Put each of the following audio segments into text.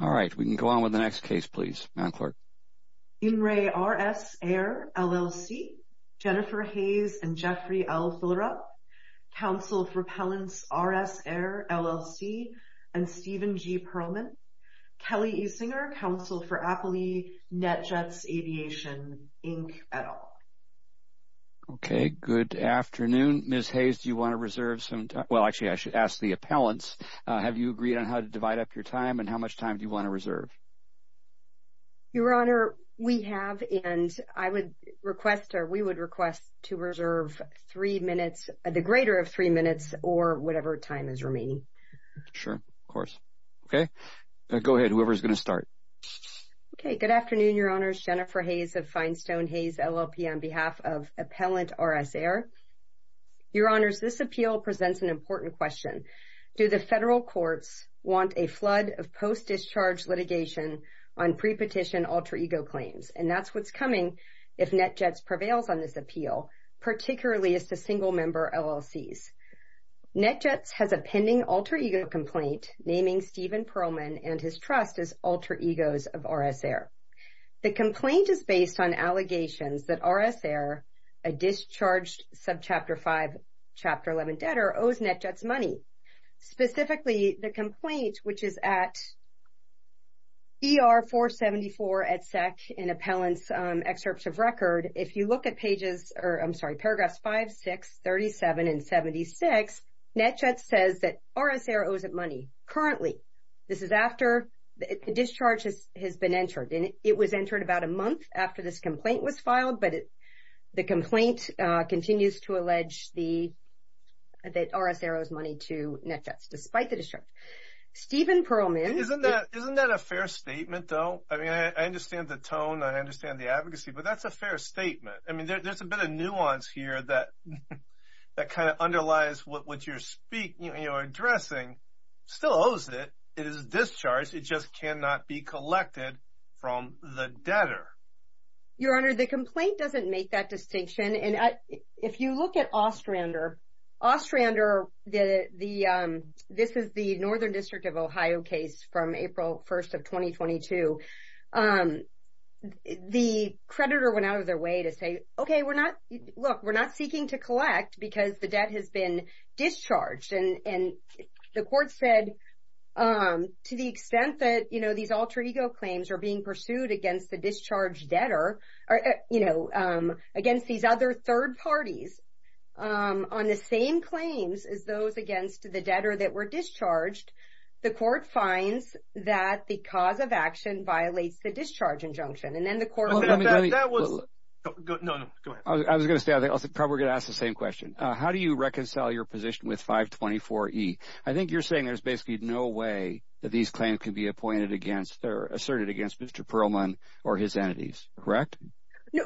Alright, we can go on with the next case please. In re. RS Air, LLC Jennifer Hayes and Jeffrey L. Fullerup Counsel for Appellants RS Air, LLC and Stephen G. Perlman Kelly E. Singer, Counsel for Appalee NetJets Aviation, Inc. et al. Okay, good afternoon. Ms. Hayes, do you want to reserve some time? Well, actually, I should ask the appellants. Have you agreed on how to divide up your time, and how much time do you want to reserve? Your Honor, we have, and I would request, or we would request, to reserve three minutes, the greater of three minutes, or whatever time is remaining. Sure, of course. Okay, go ahead, whoever is going to start. Okay, good afternoon, Your Honors. Jennifer Hayes of Finestone Hayes, LLP, on behalf of Appellant RS Air. Your Honors, this appeal presents an important question. Do the federal courts want a flood of post-discharge litigation on pre-petition alter-ego claims? And that's what's coming if NetJets prevails on this appeal, particularly as to single-member LLCs. NetJets has a pending alter-ego complaint naming Stephen Perlman and his trust as alter-egos of RS Air. The complaint is based on allegations that RS Air, a discharged Subchapter 5, Chapter 11 debtor, owes NetJets money. Specifically, the complaint, which is at ER 474 at SEC in Appellant's excerpts of record, if you look at pages, or I'm sorry, paragraphs 5, 6, 37, and 76, NetJets says that RS Air owes it money. Currently, this is after the discharge has been entered. And it was entered about a month after this complaint was filed, but the complaint continues to allege that RS Air owes money to NetJets, despite the discharge. Stephen Perlman. Isn't that a fair statement, though? I mean, I understand the tone. I understand the advocacy, but that's a fair statement. I mean, there's a bit of nuance here that kind of underlies what you're addressing. Still owes it. It is discharged. It just cannot be collected from the debtor. Your Honor, the complaint doesn't make that distinction. And if you look at Ostrander, Ostrander, this is the Northern District of Ohio case from April 1st of 2022. The creditor went out of their way to say, okay, look, we're not seeking to collect because the debt has been discharged. And the court said to the extent that, you know, these alter ego claims are being pursued against the discharged debtor, you know, against these other third parties on the same claims as those against the debtor that were discharged, the court finds that the cause of action violates the discharge injunction. And then the court. That was good. I was going to say I was probably going to ask the same question. How do you reconcile your position with 524 E? I think you're saying there's basically no way that these claims can be appointed against or asserted against Mr. Perlman or his entities. Correct.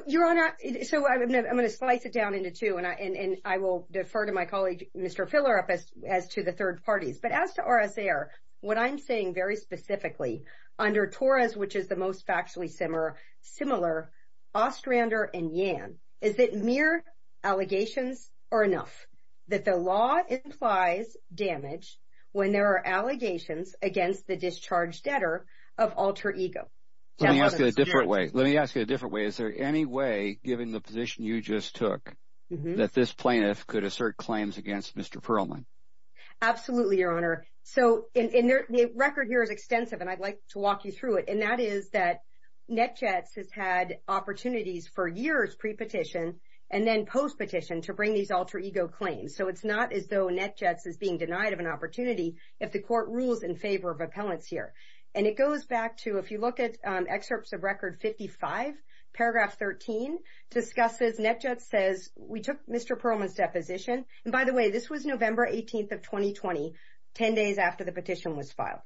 Your Honor. So I'm going to slice it down into two. And I will defer to my colleague, Mr. Fill her up as to the third parties. But as to RSA are what I'm saying very specifically under Taurus, which is the most factually similar Ostrander and Yan. Is it mere allegations or enough that the law implies damage when there are allegations against the discharge debtor of alter ego? Let me ask you a different way. Let me ask you a different way. Is there any way, given the position you just took, that this plaintiff could assert claims against Mr. Perlman? Absolutely, Your Honor. So in their record here is extensive, and I'd like to walk you through it. And that is that net jets has had opportunities for years pre petition and then post petition to bring these alter ego claims. So it's not as though net jets is being denied of an opportunity if the court rules in favor of appellants here. And it goes back to if you look at excerpts of record 55 paragraph 13 discusses net jets says we took Mr. Perlman's deposition. And by the way, this was November 18th of 2020, 10 days after the petition was filed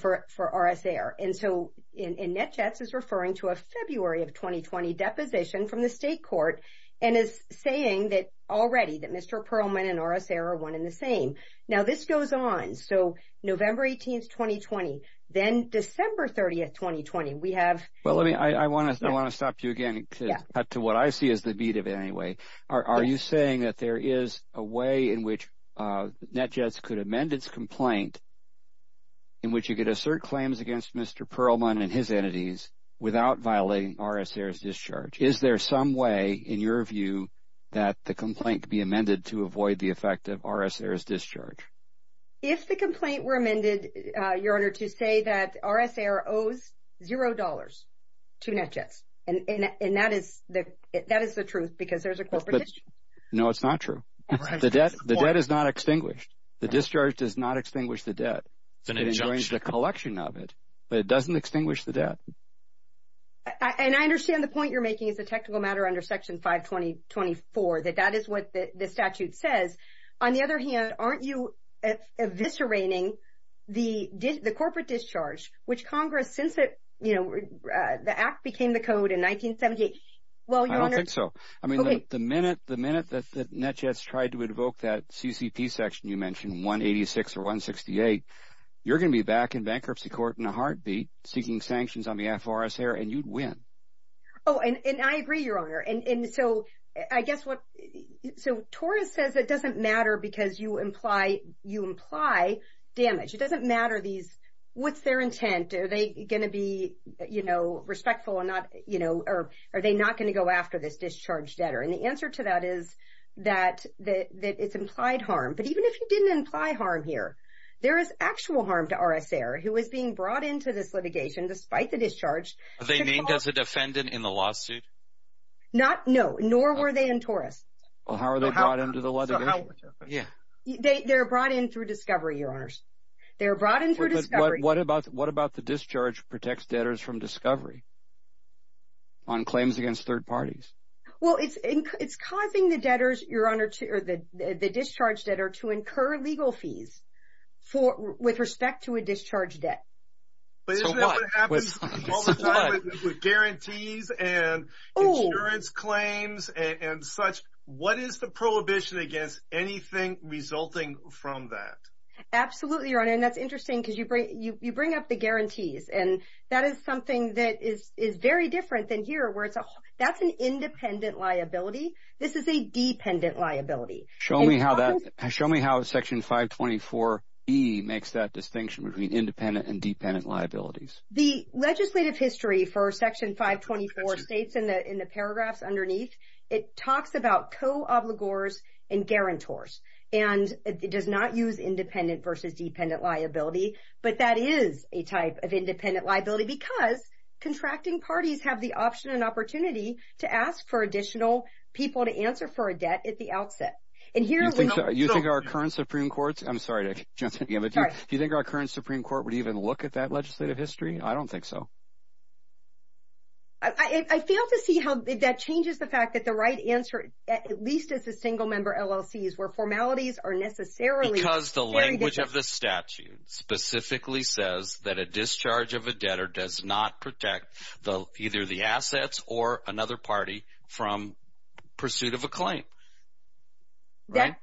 for RSA. And so in net jets is referring to a February of 2020 deposition from the state court and is saying that already that Mr. Perlman and RSA are one in the same. Now this goes on. So November 18th, 2020, then December 30th, 2020, we have. Well, let me I want to I want to stop you again to what I see as the beat of it anyway. Are you saying that there is a way in which net jets could amend its complaint? In which you could assert claims against Mr. Perlman and his entities without violating RSA discharge. Is there some way in your view that the complaint could be amended to avoid the effect of RSA discharge? If the complaint were amended, your honor, to say that RSA owes zero dollars to net jets. And that is that that is the truth, because there's a question. No, it's not true. The debt, the debt is not extinguished. The discharge does not extinguish the debt. It enjoys the collection of it, but it doesn't extinguish the debt. And I understand the point you're making is a technical matter under Section 520. Twenty four that that is what the statute says. On the other hand, aren't you eviscerating the corporate discharge, which Congress since it, you know, the act became the code in 1978? Well, I don't think so. I mean, the minute the minute that the net jets tried to invoke that CCP section, you mentioned 186 or 168. You're going to be back in bankruptcy court in a heartbeat seeking sanctions on behalf of RSA and you'd win. Oh, and I agree, your honor. And so I guess what so Taurus says it doesn't matter because you imply you imply damage. It doesn't matter. These what's their intent? Are they going to be, you know, respectful or not? You know, or are they not going to go after this discharge debtor? And the answer to that is that that it's implied harm. But even if you didn't imply harm here, there is actual harm to RSA or who is being brought into this litigation despite the discharge. Are they named as a defendant in the lawsuit? Not no, nor were they in Taurus. Well, how are they brought into the litigation? Yeah, they're brought in through discovery, your honors. They're brought in through discovery. What about what about the discharge protects debtors from discovery? On claims against third parties. Well, it's it's causing the debtors, your honor, to the discharge debtor to incur legal fees for with respect to a discharge debt. But isn't that what happens with guarantees and insurance claims and such? What is the prohibition against anything resulting from that? Absolutely, your honor. And that's interesting because you bring you bring up the guarantees. And that is something that is is very different than here, where it's that's an independent liability. This is a dependent liability. Show me how that show me how Section 524 E makes that distinction between independent and dependent liabilities. The legislative history for Section 524 states in the in the paragraphs underneath, it talks about co-obligors and guarantors. And it does not use independent versus dependent liability. But that is a type of independent liability because contracting parties have the option and opportunity to ask for additional people to answer for a debt at the outset. And here you think our current Supreme Court's I'm sorry to just give it. Do you think our current Supreme Court would even look at that legislative history? I don't think so. I feel to see how that changes the fact that the right answer, at least as a single member LLC, is where formalities are necessarily because the language of the statutes. Specifically says that a discharge of a debtor does not protect the either the assets or another party from pursuit of a claim. That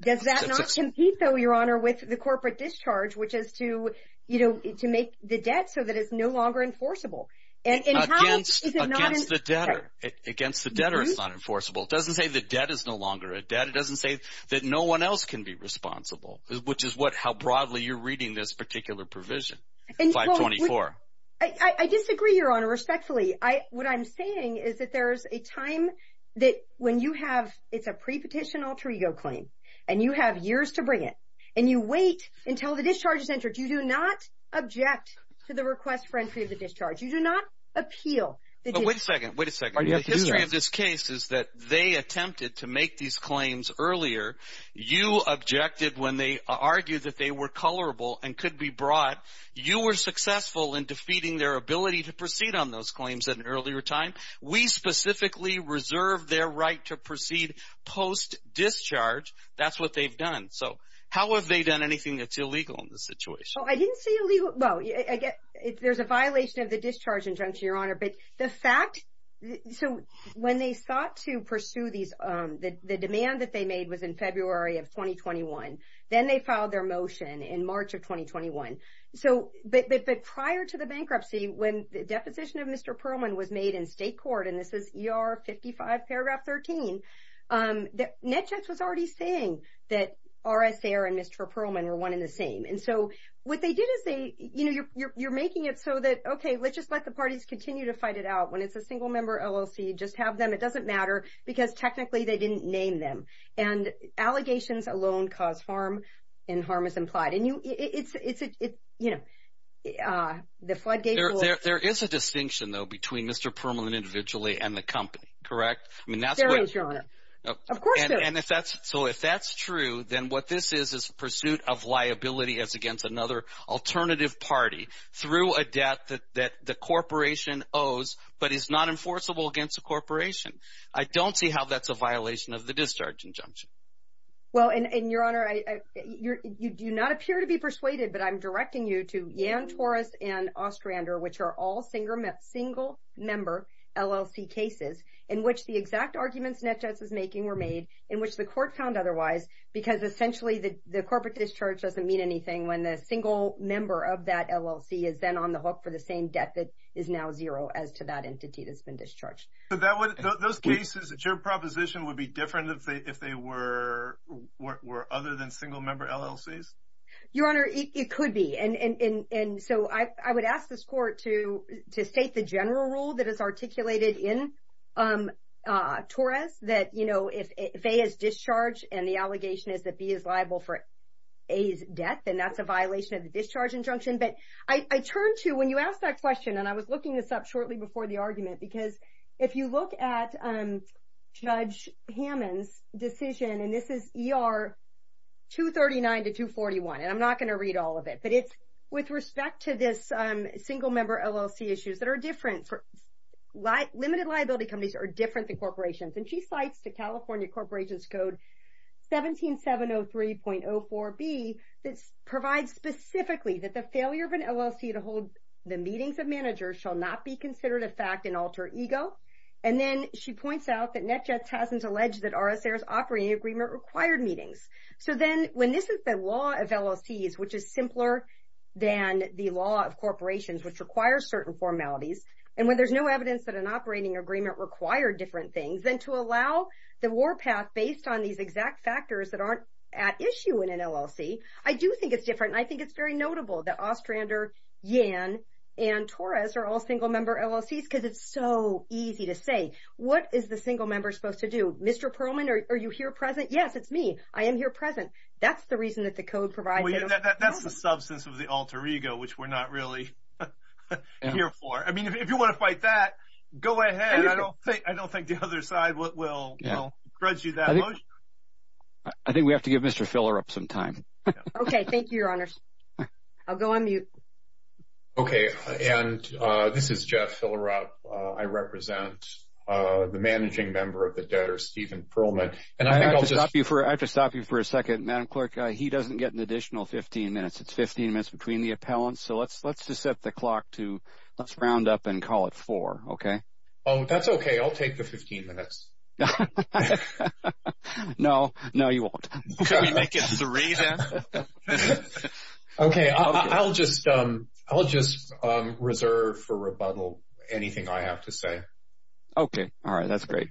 does that not compete, though, Your Honor, with the corporate discharge, which is to, you know, to make the debt so that it's no longer enforceable. And it's against the debtor against the debtor is not enforceable. It doesn't say the debt is no longer a debt. It doesn't say that no one else can be responsible, which is what how broadly you're reading this particular provision 524. I disagree, Your Honor. Respectfully, I what I'm saying is that there is a time that when you have it's a prepetition alter ego claim and you have years to bring it and you wait until the discharge is entered. You do not object to the request for entry of the discharge. You do not appeal. Wait a second. Wait a second. History of this case is that they attempted to make these claims earlier. You objected when they argued that they were colorable and could be brought. You were successful in defeating their ability to proceed on those claims at an earlier time. We specifically reserve their right to proceed post discharge. That's what they've done. So how have they done anything that's illegal in this situation? So I didn't see you leave. Well, I get it. There's a violation of the discharge injunction, Your Honor. But the fact. So when they sought to pursue these, the demand that they made was in February of 2021. Then they filed their motion in March of 2021. So but prior to the bankruptcy, when the deposition of Mr. Perlman was made in state court, and this is your 55 paragraph 13 that net checks was already saying that RSA and Mr. Perlman were one in the same. And so what they didn't say, you know, you're making it so that, OK, let's just let the parties continue to fight it out. When it's a single member LLC, just have them. It doesn't matter because technically they didn't name them. And allegations alone cause harm and harm is implied. And it's, you know, the floodgates. There is a distinction, though, between Mr. Perlman individually and the company. Correct. I mean, that's right. Of course. And if that's so, if that's true, then what this is, is pursuit of liability as against another alternative party through a debt that the corporation owes but is not enforceable against a corporation. I don't see how that's a violation of the discharge injunction. Well, and your honor, you do not appear to be persuaded, but I'm directing you to Yann Torres and Ostrander, which are all single member LLC cases in which the exact arguments net justice making were made in which the court found otherwise, because essentially the corporate discharge doesn't mean anything when the single member of that LLC is then on the hook for the same debt that is now zero as to that entity that's been discharged. Those cases, your proposition would be different if they were other than single member LLCs? Your honor, it could be. And so I would ask this court to state the general rule that is articulated in Torres that, you know, if A is discharged and the allegation is that B is liable for A's death, then that's a violation of the discharge injunction. But I turn to, when you ask that question, and I was looking this up shortly before the argument, because if you look at Judge Hammond's decision, and this is ER 239 to 241, and I'm not going to read all of it, but it's with respect to this single member LLC issues that are different. Limited liability companies are different than corporations. And she cites the California Corporations Code 17703.04B that provides specifically that the failure of an LLC to hold the meetings of managers shall not be considered a fact and alter ego. And then she points out that NetJets hasn't alleged that RSA's operating agreement required meetings. So then when this is the law of LLCs, which is simpler than the law of corporations, which requires certain formalities, and when there's no evidence that an operating agreement required different things, then to allow the war path based on these exact factors that aren't at issue in an LLC, I do think it's different. And I think it's very notable that Ostrander, Yan, and Torres are all single member LLCs because it's so easy to say. What is the single member supposed to do? Mr. Perlman, are you here present? Yes, it's me. I am here present. That's the reason that the code provides it. That's the substance of the alter ego, which we're not really here for. I mean, if you want to fight that, go ahead. I don't think the other side will grudge you that much. I think we have to give Mr. Fillerup some time. Okay. Thank you, Your Honors. I'll go on mute. Okay. And this is Jeff Fillerup. I represent the managing member of the debtor, Stephen Perlman. I have to stop you for a second, Madam Clerk. He doesn't get an additional 15 minutes. It's 15 minutes between the appellants. So let's just set the clock to let's round up and call it four, okay? Oh, that's okay. I'll take the 15 minutes. No, you won't. Can we make it three then? Okay. I'll just reserve for rebuttal anything I have to say. Okay. All right. That's great.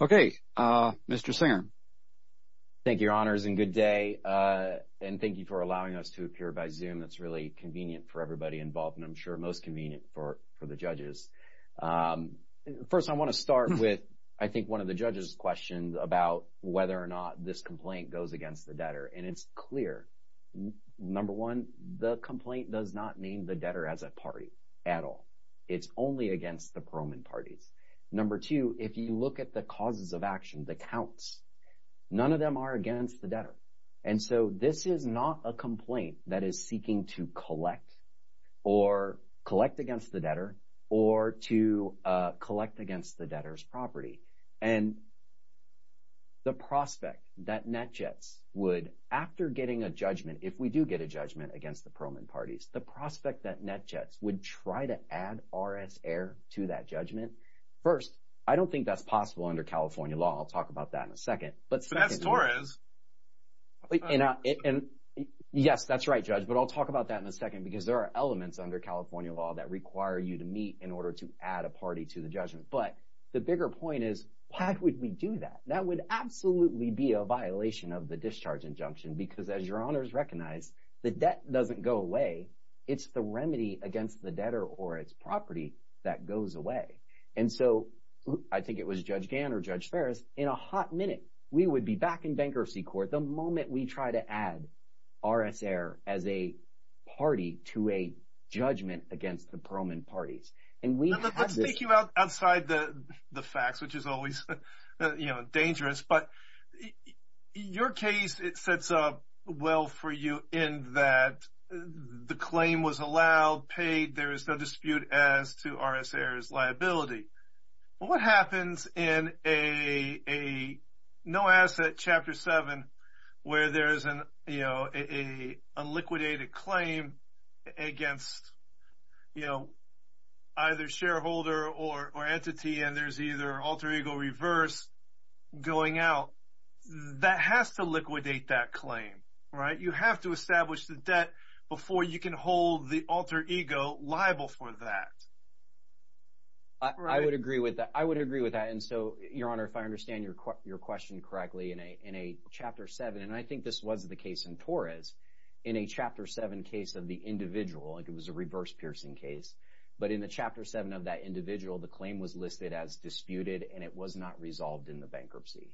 Okay. Mr. Singer. Thank you, Your Honors, and good day. And thank you for allowing us to appear by Zoom. That's really convenient for everybody involved and I'm sure most convenient for the judges. First, I want to start with, I think, one of the judges' questions about whether or not this complaint goes against the debtor. And it's clear. Number one, the complaint does not name the debtor as a party at all. It's only against the Perlman parties. Number two, if you look at the causes of action, the counts, none of them are against the debtor. And so this is not a complaint that is seeking to collect or collect against the debtor or to collect against the debtor's property. And the prospect that NetJets would, after getting a judgment, if we do get a judgment against the Perlman parties, the prospect that NetJets would try to add RS Air to that judgment, first, I don't think that's possible under California law. I'll talk about that in a second. But that's Torres. Yes, that's right, Judge, but I'll talk about that in a second because there are elements under California law that require you to meet in order to add a party to the judgment. But the bigger point is, why would we do that? That would absolutely be a violation of the discharge injunction because, as your honors recognize, the debt doesn't go away. It's the remedy against the debtor or its property that goes away. And so I think it was Judge Gann or Judge Ferris, in a hot minute, we would be back in bankruptcy court the moment we try to add RS Air as a party to a judgment against the Perlman parties. Let's take you outside the facts, which is always dangerous. But your case, it sets up well for you in that the claim was allowed, paid. There is no dispute as to RS Air's liability. What happens in a no-asset Chapter 7 where there is a liquidated claim against either shareholder or entity, and there's either alter ego reverse going out, that has to liquidate that claim. You have to establish the debt before you can hold the alter ego liable for that. I would agree with that. And so, your honor, if I understand your question correctly, in a Chapter 7, and I think this was the case in Torres, in a Chapter 7 case of the individual, like it was a reverse piercing case, but in the Chapter 7 of that individual, the claim was listed as disputed and it was not resolved in the bankruptcy.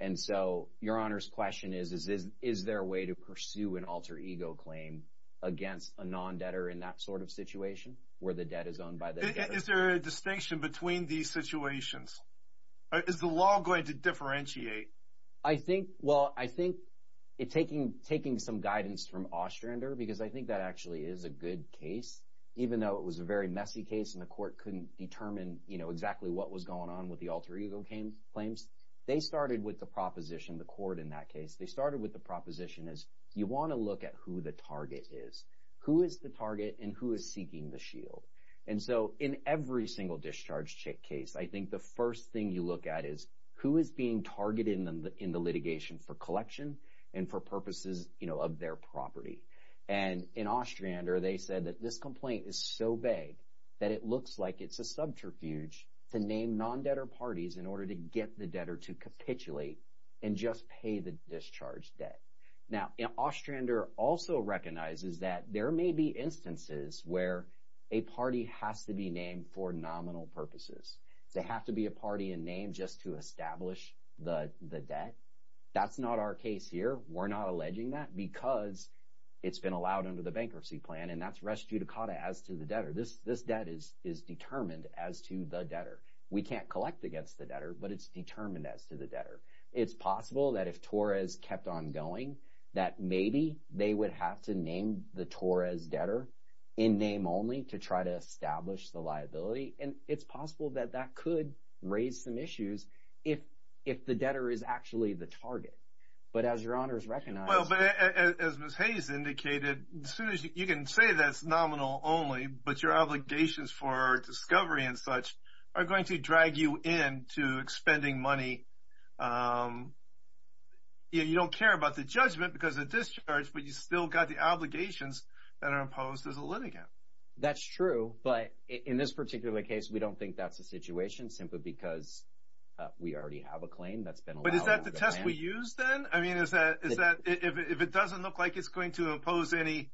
And so, your honor's question is, is there a way to pursue an alter ego claim against a non-debtor in that sort of situation where the debt is owned by the debtor? Is there a distinction between these situations? Is the law going to differentiate? I think, well, I think taking some guidance from Ostrander, because I think that actually is a good case, even though it was a very messy case and the court couldn't determine exactly what was going on with the alter ego claims, they started with the proposition, the court in that case, they started with the proposition as you want to look at who the target is. Who is the target and who is seeking the shield? And so, in every single discharge case, I think the first thing you look at is who is being targeted in the litigation for collection and for purposes of their property. And in Ostrander, they said that this complaint is so vague that it looks like it's a subterfuge to name non-debtor parties in order to get the debtor to capitulate and just pay the discharge debt. Now, Ostrander also recognizes that there may be instances where a party has to be named for nominal purposes. They have to be a party in name just to establish the debt. That's not our case here. We're not alleging that because it's been allowed under the bankruptcy plan and that's res judicata as to the debtor. This debt is determined as to the debtor. We can't collect against the debtor, but it's determined as to the debtor. It's possible that if Torres kept on going, that maybe they would have to name the Torres debtor in name only to try to establish the liability. And it's possible that that could raise some issues if the debtor is actually the target. But as your honors recognize— Well, but as Ms. Hayes indicated, as soon as you can say that's nominal only, but your obligations for discovery and such are going to drag you in to expending money. You don't care about the judgment because of discharge, but you still got the obligations that are imposed as a litigant. That's true, but in this particular case, we don't think that's the situation simply because we already have a claim that's been allowed. But is that the test we use then? I mean, is that—if it doesn't look like it's going to impose any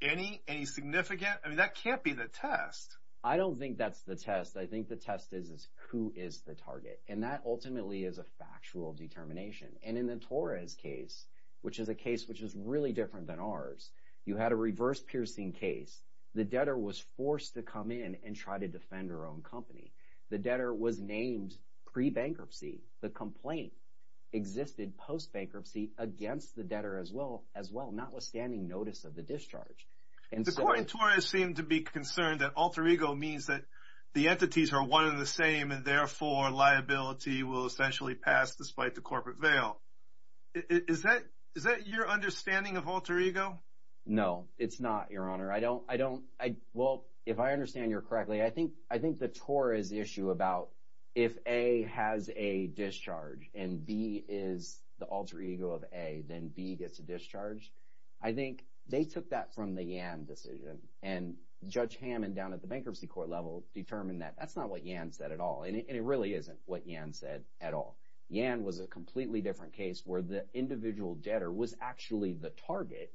significant— I mean, that can't be the test. I don't think that's the test. I think the test is who is the target. And that ultimately is a factual determination. And in the Torres case, which is a case which is really different than ours, you had a reverse-piercing case. The debtor was forced to come in and try to defend her own company. The debtor was named pre-bankruptcy. The complaint existed post-bankruptcy against the debtor as well, notwithstanding notice of the discharge. The court in Torres seemed to be concerned that alter ego means that the entities are one and the same, and therefore liability will essentially pass despite the corporate veil. Is that your understanding of alter ego? No, it's not, Your Honor. I don't—well, if I understand you correctly, I think the Torres issue about if A has a discharge and B is the alter ego of A, then B gets a discharge. I think they took that from the Yan decision, and Judge Hammond down at the bankruptcy court level determined that that's not what Yan said at all, and it really isn't what Yan said at all. Yan was a completely different case where the individual debtor was actually the target,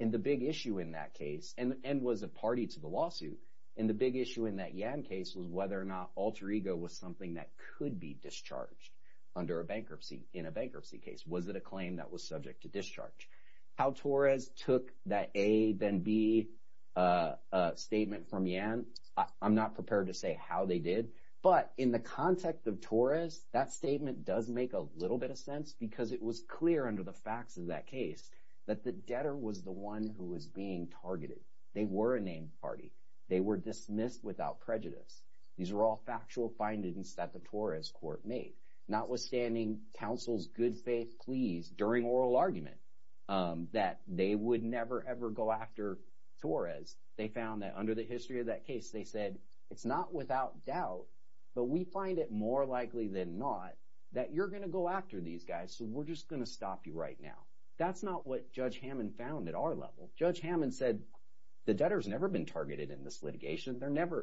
and the big issue in that case—and was a party to the lawsuit— and the big issue in that Yan case was whether or not alter ego was something that could be discharged under a bankruptcy, in a bankruptcy case. Was it a claim that was subject to discharge? How Torres took that A, then B statement from Yan, I'm not prepared to say how they did, but in the context of Torres, that statement does make a little bit of sense because it was clear under the facts of that case that the debtor was the one who was being targeted. They were a named party. They were dismissed without prejudice. These were all factual findings that the Torres court made. Notwithstanding counsel's good faith pleas during oral argument that they would never, ever go after Torres, they found that under the history of that case, they said it's not without doubt, but we find it more likely than not that you're going to go after these guys, so we're just going to stop you right now. That's not what Judge Hammond found at our level. Judge Hammond said the debtor's never been targeted in this litigation.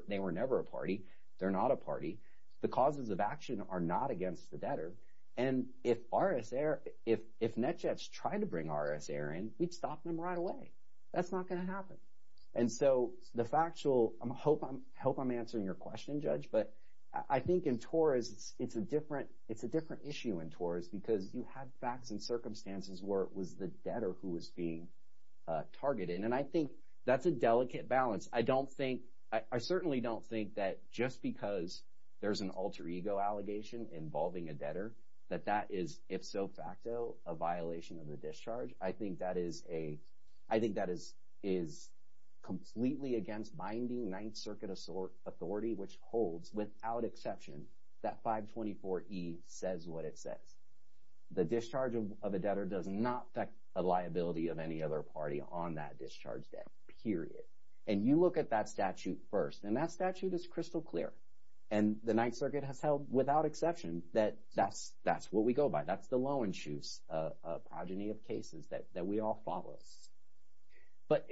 They were never a party. They're not a party. The causes of action are not against the debtor, and if NetJets tried to bring RSA in, we'd stop them right away. That's not going to happen. And so the factual—I hope I'm answering your question, Judge, but I think in Torres it's a different issue in Torres because you had facts and circumstances where it was the debtor who was being targeted, and I think that's a delicate balance. I don't think—I certainly don't think that just because there's an alter ego allegation involving a debtor that that is, if so facto, a violation of the discharge. I think that is a—I think that is completely against binding Ninth Circuit authority, which holds without exception that 524E says what it says. The discharge of a debtor does not affect the liability of any other party on that discharge debt, period. And you look at that statute first, and that statute is crystal clear, and the Ninth Circuit has held without exception that that's what we go by. That's the Loewenschutz progeny of cases that we all follow. But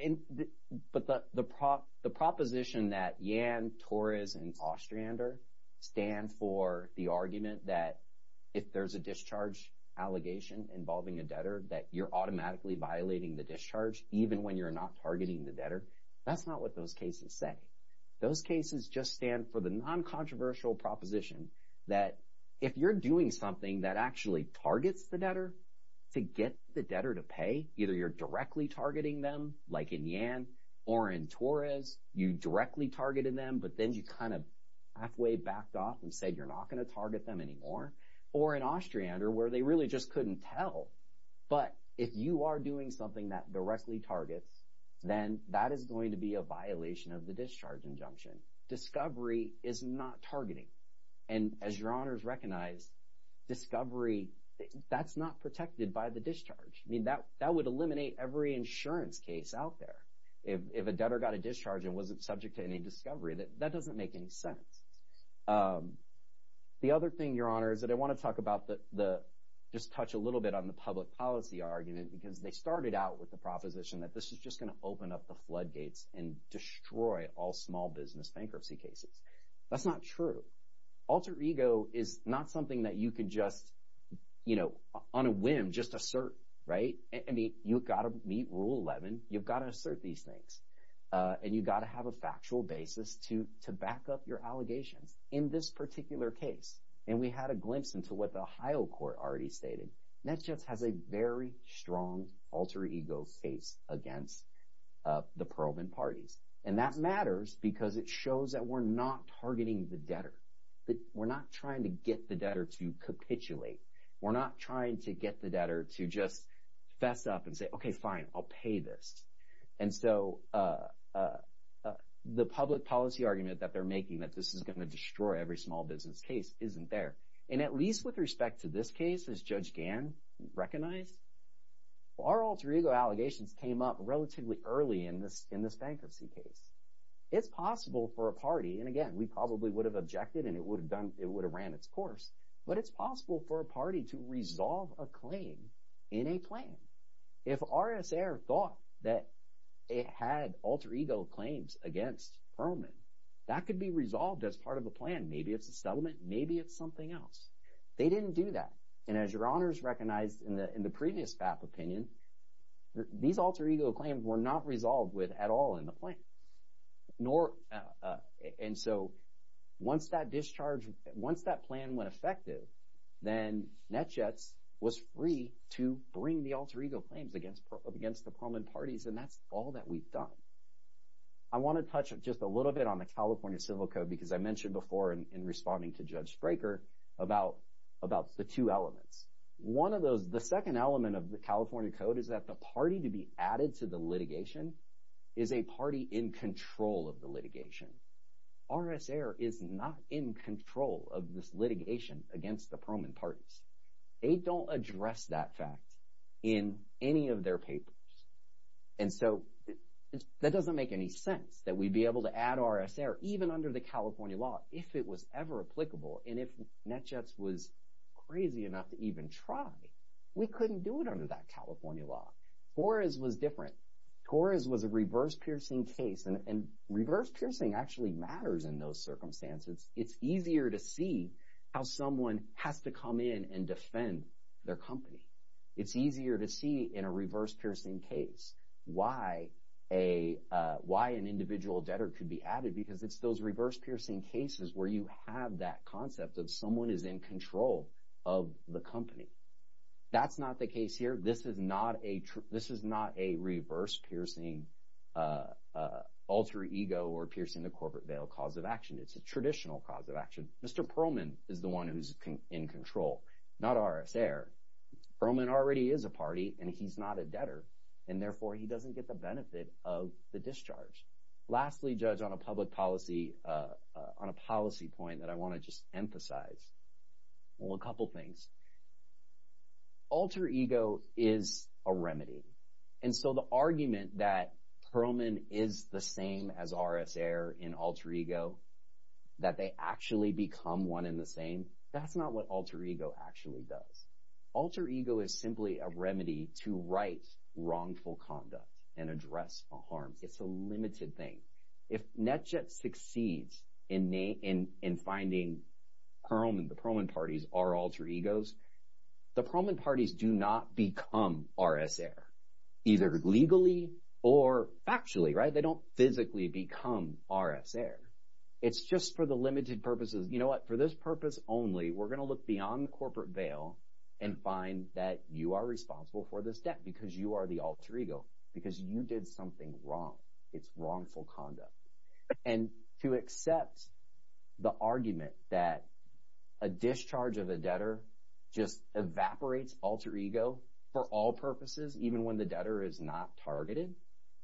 the proposition that Yan, Torres, and Ostrander stand for the argument that if there's a discharge allegation involving a debtor that you're automatically violating the discharge even when you're not targeting the debtor, that's not what those cases say. Those cases just stand for the non-controversial proposition that if you're doing something that actually targets the debtor to get the debtor to pay, either you're directly targeting them like in Yan or in Torres, you directly targeted them but then you kind of halfway backed off and said you're not going to target them anymore, or in Ostrander where they really just couldn't tell. But if you are doing something that directly targets, then that is going to be a violation of the discharge injunction. Discovery is not targeting. And as Your Honors recognize, discovery, that's not protected by the discharge. I mean, that would eliminate every insurance case out there. If a debtor got a discharge and wasn't subject to any discovery, that doesn't make any sense. The other thing, Your Honor, is that I want to talk about the – just touch a little bit on the public policy argument because they started out with the proposition that this is just going to open up the floodgates and destroy all small business bankruptcy cases. That's not true. Alter ego is not something that you can just on a whim just assert. I mean, you've got to meet Rule 11. You've got to assert these things. And you've got to have a factual basis to back up your allegations in this particular case. And we had a glimpse into what the Ohio court already stated. That just has a very strong alter ego face against the Perlman parties. And that matters because it shows that we're not targeting the debtor. We're not trying to get the debtor to capitulate. We're not trying to get the debtor to just fess up and say, okay, fine, I'll pay this. And so the public policy argument that they're making that this is going to destroy every small business case isn't there. And at least with respect to this case, as Judge Gann recognized, our alter ego allegations came up relatively early in this bankruptcy case. It's possible for a party – and again, we probably would have objected and it would have ran its course. But it's possible for a party to resolve a claim in a plan. If RSA thought that it had alter ego claims against Perlman, that could be resolved as part of a plan. Maybe it's a settlement. Maybe it's something else. They didn't do that, and as Your Honors recognized in the previous FAP opinion, these alter ego claims were not resolved with at all in the plan. And so once that discharge – once that plan went effective, then NETJETS was free to bring the alter ego claims against the Perlman parties, and that's all that we've done. I want to touch just a little bit on the California Civil Code because I mentioned before in responding to Judge Straker about the two elements. One of those – the second element of the California Code is that the party to be added to the litigation is a party in control of the litigation. RSA is not in control of this litigation against the Perlman parties. They don't address that fact in any of their papers, and so that doesn't make any sense that we'd be able to add RSA even under the California law if it was ever applicable. And if NETJETS was crazy enough to even try, we couldn't do it under that California law. Torres was different. Torres was a reverse-piercing case, and reverse-piercing actually matters in those circumstances. It's easier to see how someone has to come in and defend their company. It's easier to see in a reverse-piercing case why an individual debtor could be added because it's those reverse-piercing cases where you have that concept that someone is in control of the company. That's not the case here. This is not a reverse-piercing alter ego or piercing the corporate veil cause of action. It's a traditional cause of action. Mr. Perlman is the one who's in control, not RSA. Perlman already is a party, and he's not a debtor, and therefore he doesn't get the benefit of the discharge. Lastly, Judge, on a policy point that I want to just emphasize, well, a couple things. Alter ego is a remedy. And so the argument that Perlman is the same as RSA or an alter ego, that they actually become one and the same, that's not what alter ego actually does. Alter ego is simply a remedy to right wrongful conduct and address harm. It's a limited thing. If NetJet succeeds in finding Perlman, the Perlman parties are alter egos, the Perlman parties do not become RSA either legally or factually. They don't physically become RSA. It's just for the limited purposes. You know what? For this purpose only, we're going to look beyond the corporate veil and find that you are responsible for this debt because you are the alter ego because you did something wrong. It's wrongful conduct. And to accept the argument that a discharge of a debtor just evaporates alter ego for all purposes even when the debtor is not targeted,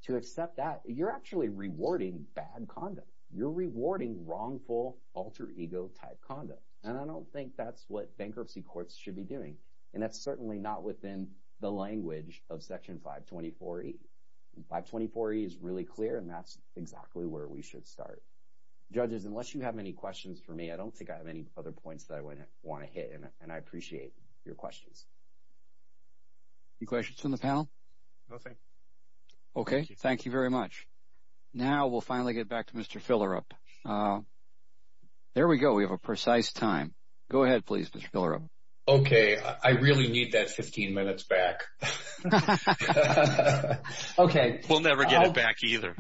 to accept that, you're actually rewarding bad conduct. You're rewarding wrongful alter ego-type conduct, and I don't think that's what bankruptcy courts should be doing, and that's certainly not within the language of Section 524E. 524E is really clear, and that's exactly where we should start. Judges, unless you have any questions for me, I don't think I have any other points that I want to hit, and I appreciate your questions. Any questions from the panel? Nothing. Okay. Thank you very much. Now we'll finally get back to Mr. Fillerup. There we go. We have a precise time. Go ahead please, Mr. Fillerup. Okay. I really need that 15 minutes back. Okay. We'll never get it back either.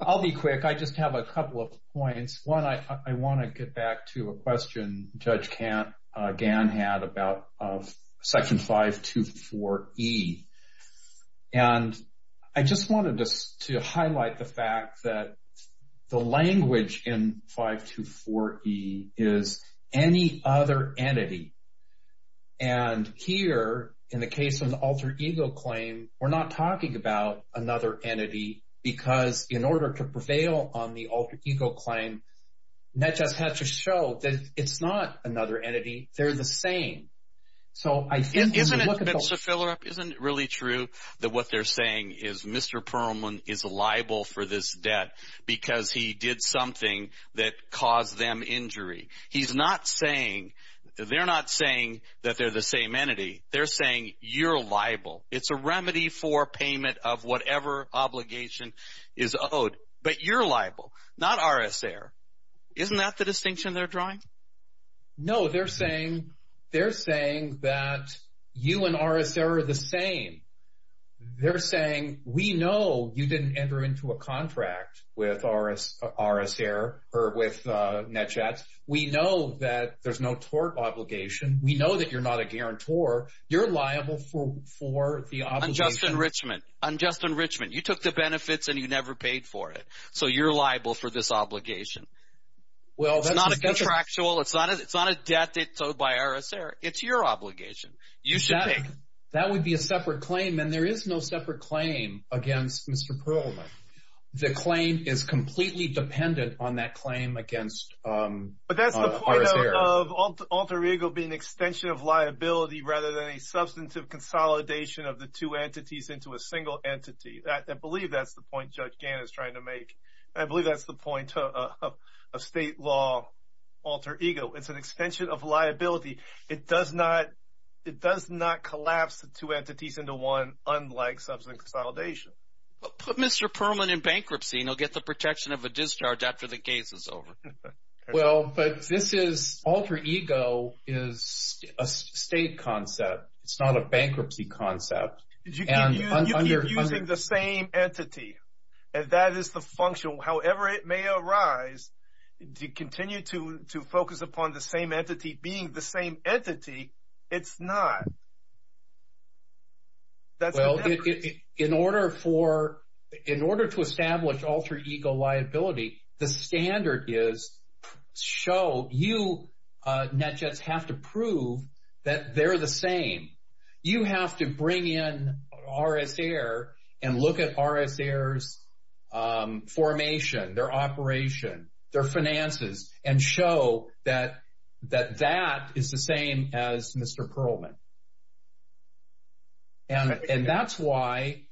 I'll be quick. I just have a couple of points. One, I want to get back to a question Judge Gan had about Section 524E, and I just wanted to highlight the fact that the language in 524E is any other entity. And here, in the case of an alter ego claim, we're not talking about another entity because in order to prevail on the alter ego claim, that just has to show that it's not another entity. They're the same. Isn't it, Mr. Fillerup, isn't it really true that what they're saying is Mr. Perlman is liable for this debt because he did something that caused them injury? He's not saying, they're not saying that they're the same entity. They're saying you're liable. It's a remedy for payment of whatever obligation is owed, but you're liable, not RS Air. Isn't that the distinction they're drawing? No, they're saying that you and RS Air are the same. They're saying we know you didn't enter into a contract with RS Air or with NetChat. We know that there's no tort obligation. We know that you're not a guarantor. You're liable for the obligation. Unjust enrichment. You took the benefits, and you never paid for it, so you're liable for this obligation. It's not a contractual. It's not a debt that's owed by RS Air. It's your obligation. That would be a separate claim, and there is no separate claim against Mr. Perlman. The claim is completely dependent on that claim against RS Air. But that's the point of alter ego being an extension of liability rather than a substantive consolidation of the two entities into a single entity. I believe that's the point Judge Gannon is trying to make, and I believe that's the point of state law alter ego. It's an extension of liability. It does not collapse the two entities into one unlike substantive consolidation. But put Mr. Perlman in bankruptcy, and he'll get the protection of a discharge after the case is over. Well, but this is alter ego is a state concept. It's not a bankruptcy concept. You keep using the same entity, and that is the function. However it may arise, you continue to focus upon the same entity being the same entity. It's not. Well, in order to establish alter ego liability, the standard is show you, NetJets, have to prove that they're the same. You have to bring in RS Air and look at RS Air's formation, their operation, their finances, and show that that is the same as Mr. Perlman. And that's why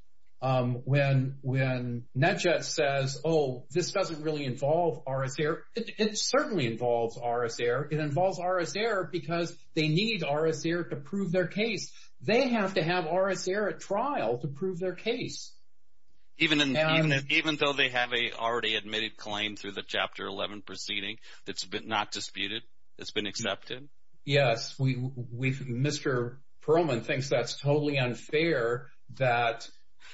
when NetJets says, oh, this doesn't really involve RS Air, it certainly involves RS Air. It involves RS Air because they need RS Air to prove their case. They have to have RS Air at trial to prove their case. Even though they have a already admitted claim through the Chapter 11 proceeding that's been not disputed, that's been accepted? Yes. Mr. Perlman thinks that's totally unfair that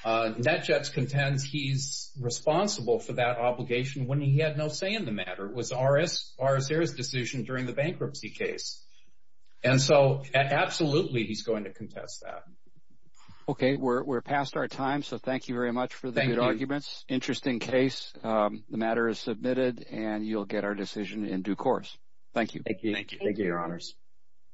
NetJets contends he's responsible for that obligation when he had no say in the matter. It was RS Air's decision during the bankruptcy case. And so absolutely he's going to contest that. Okay, we're past our time, so thank you very much for the good arguments. Thank you. Interesting case. The matter is submitted and you'll get our decision in due course. Thank you. Thank you, your honors.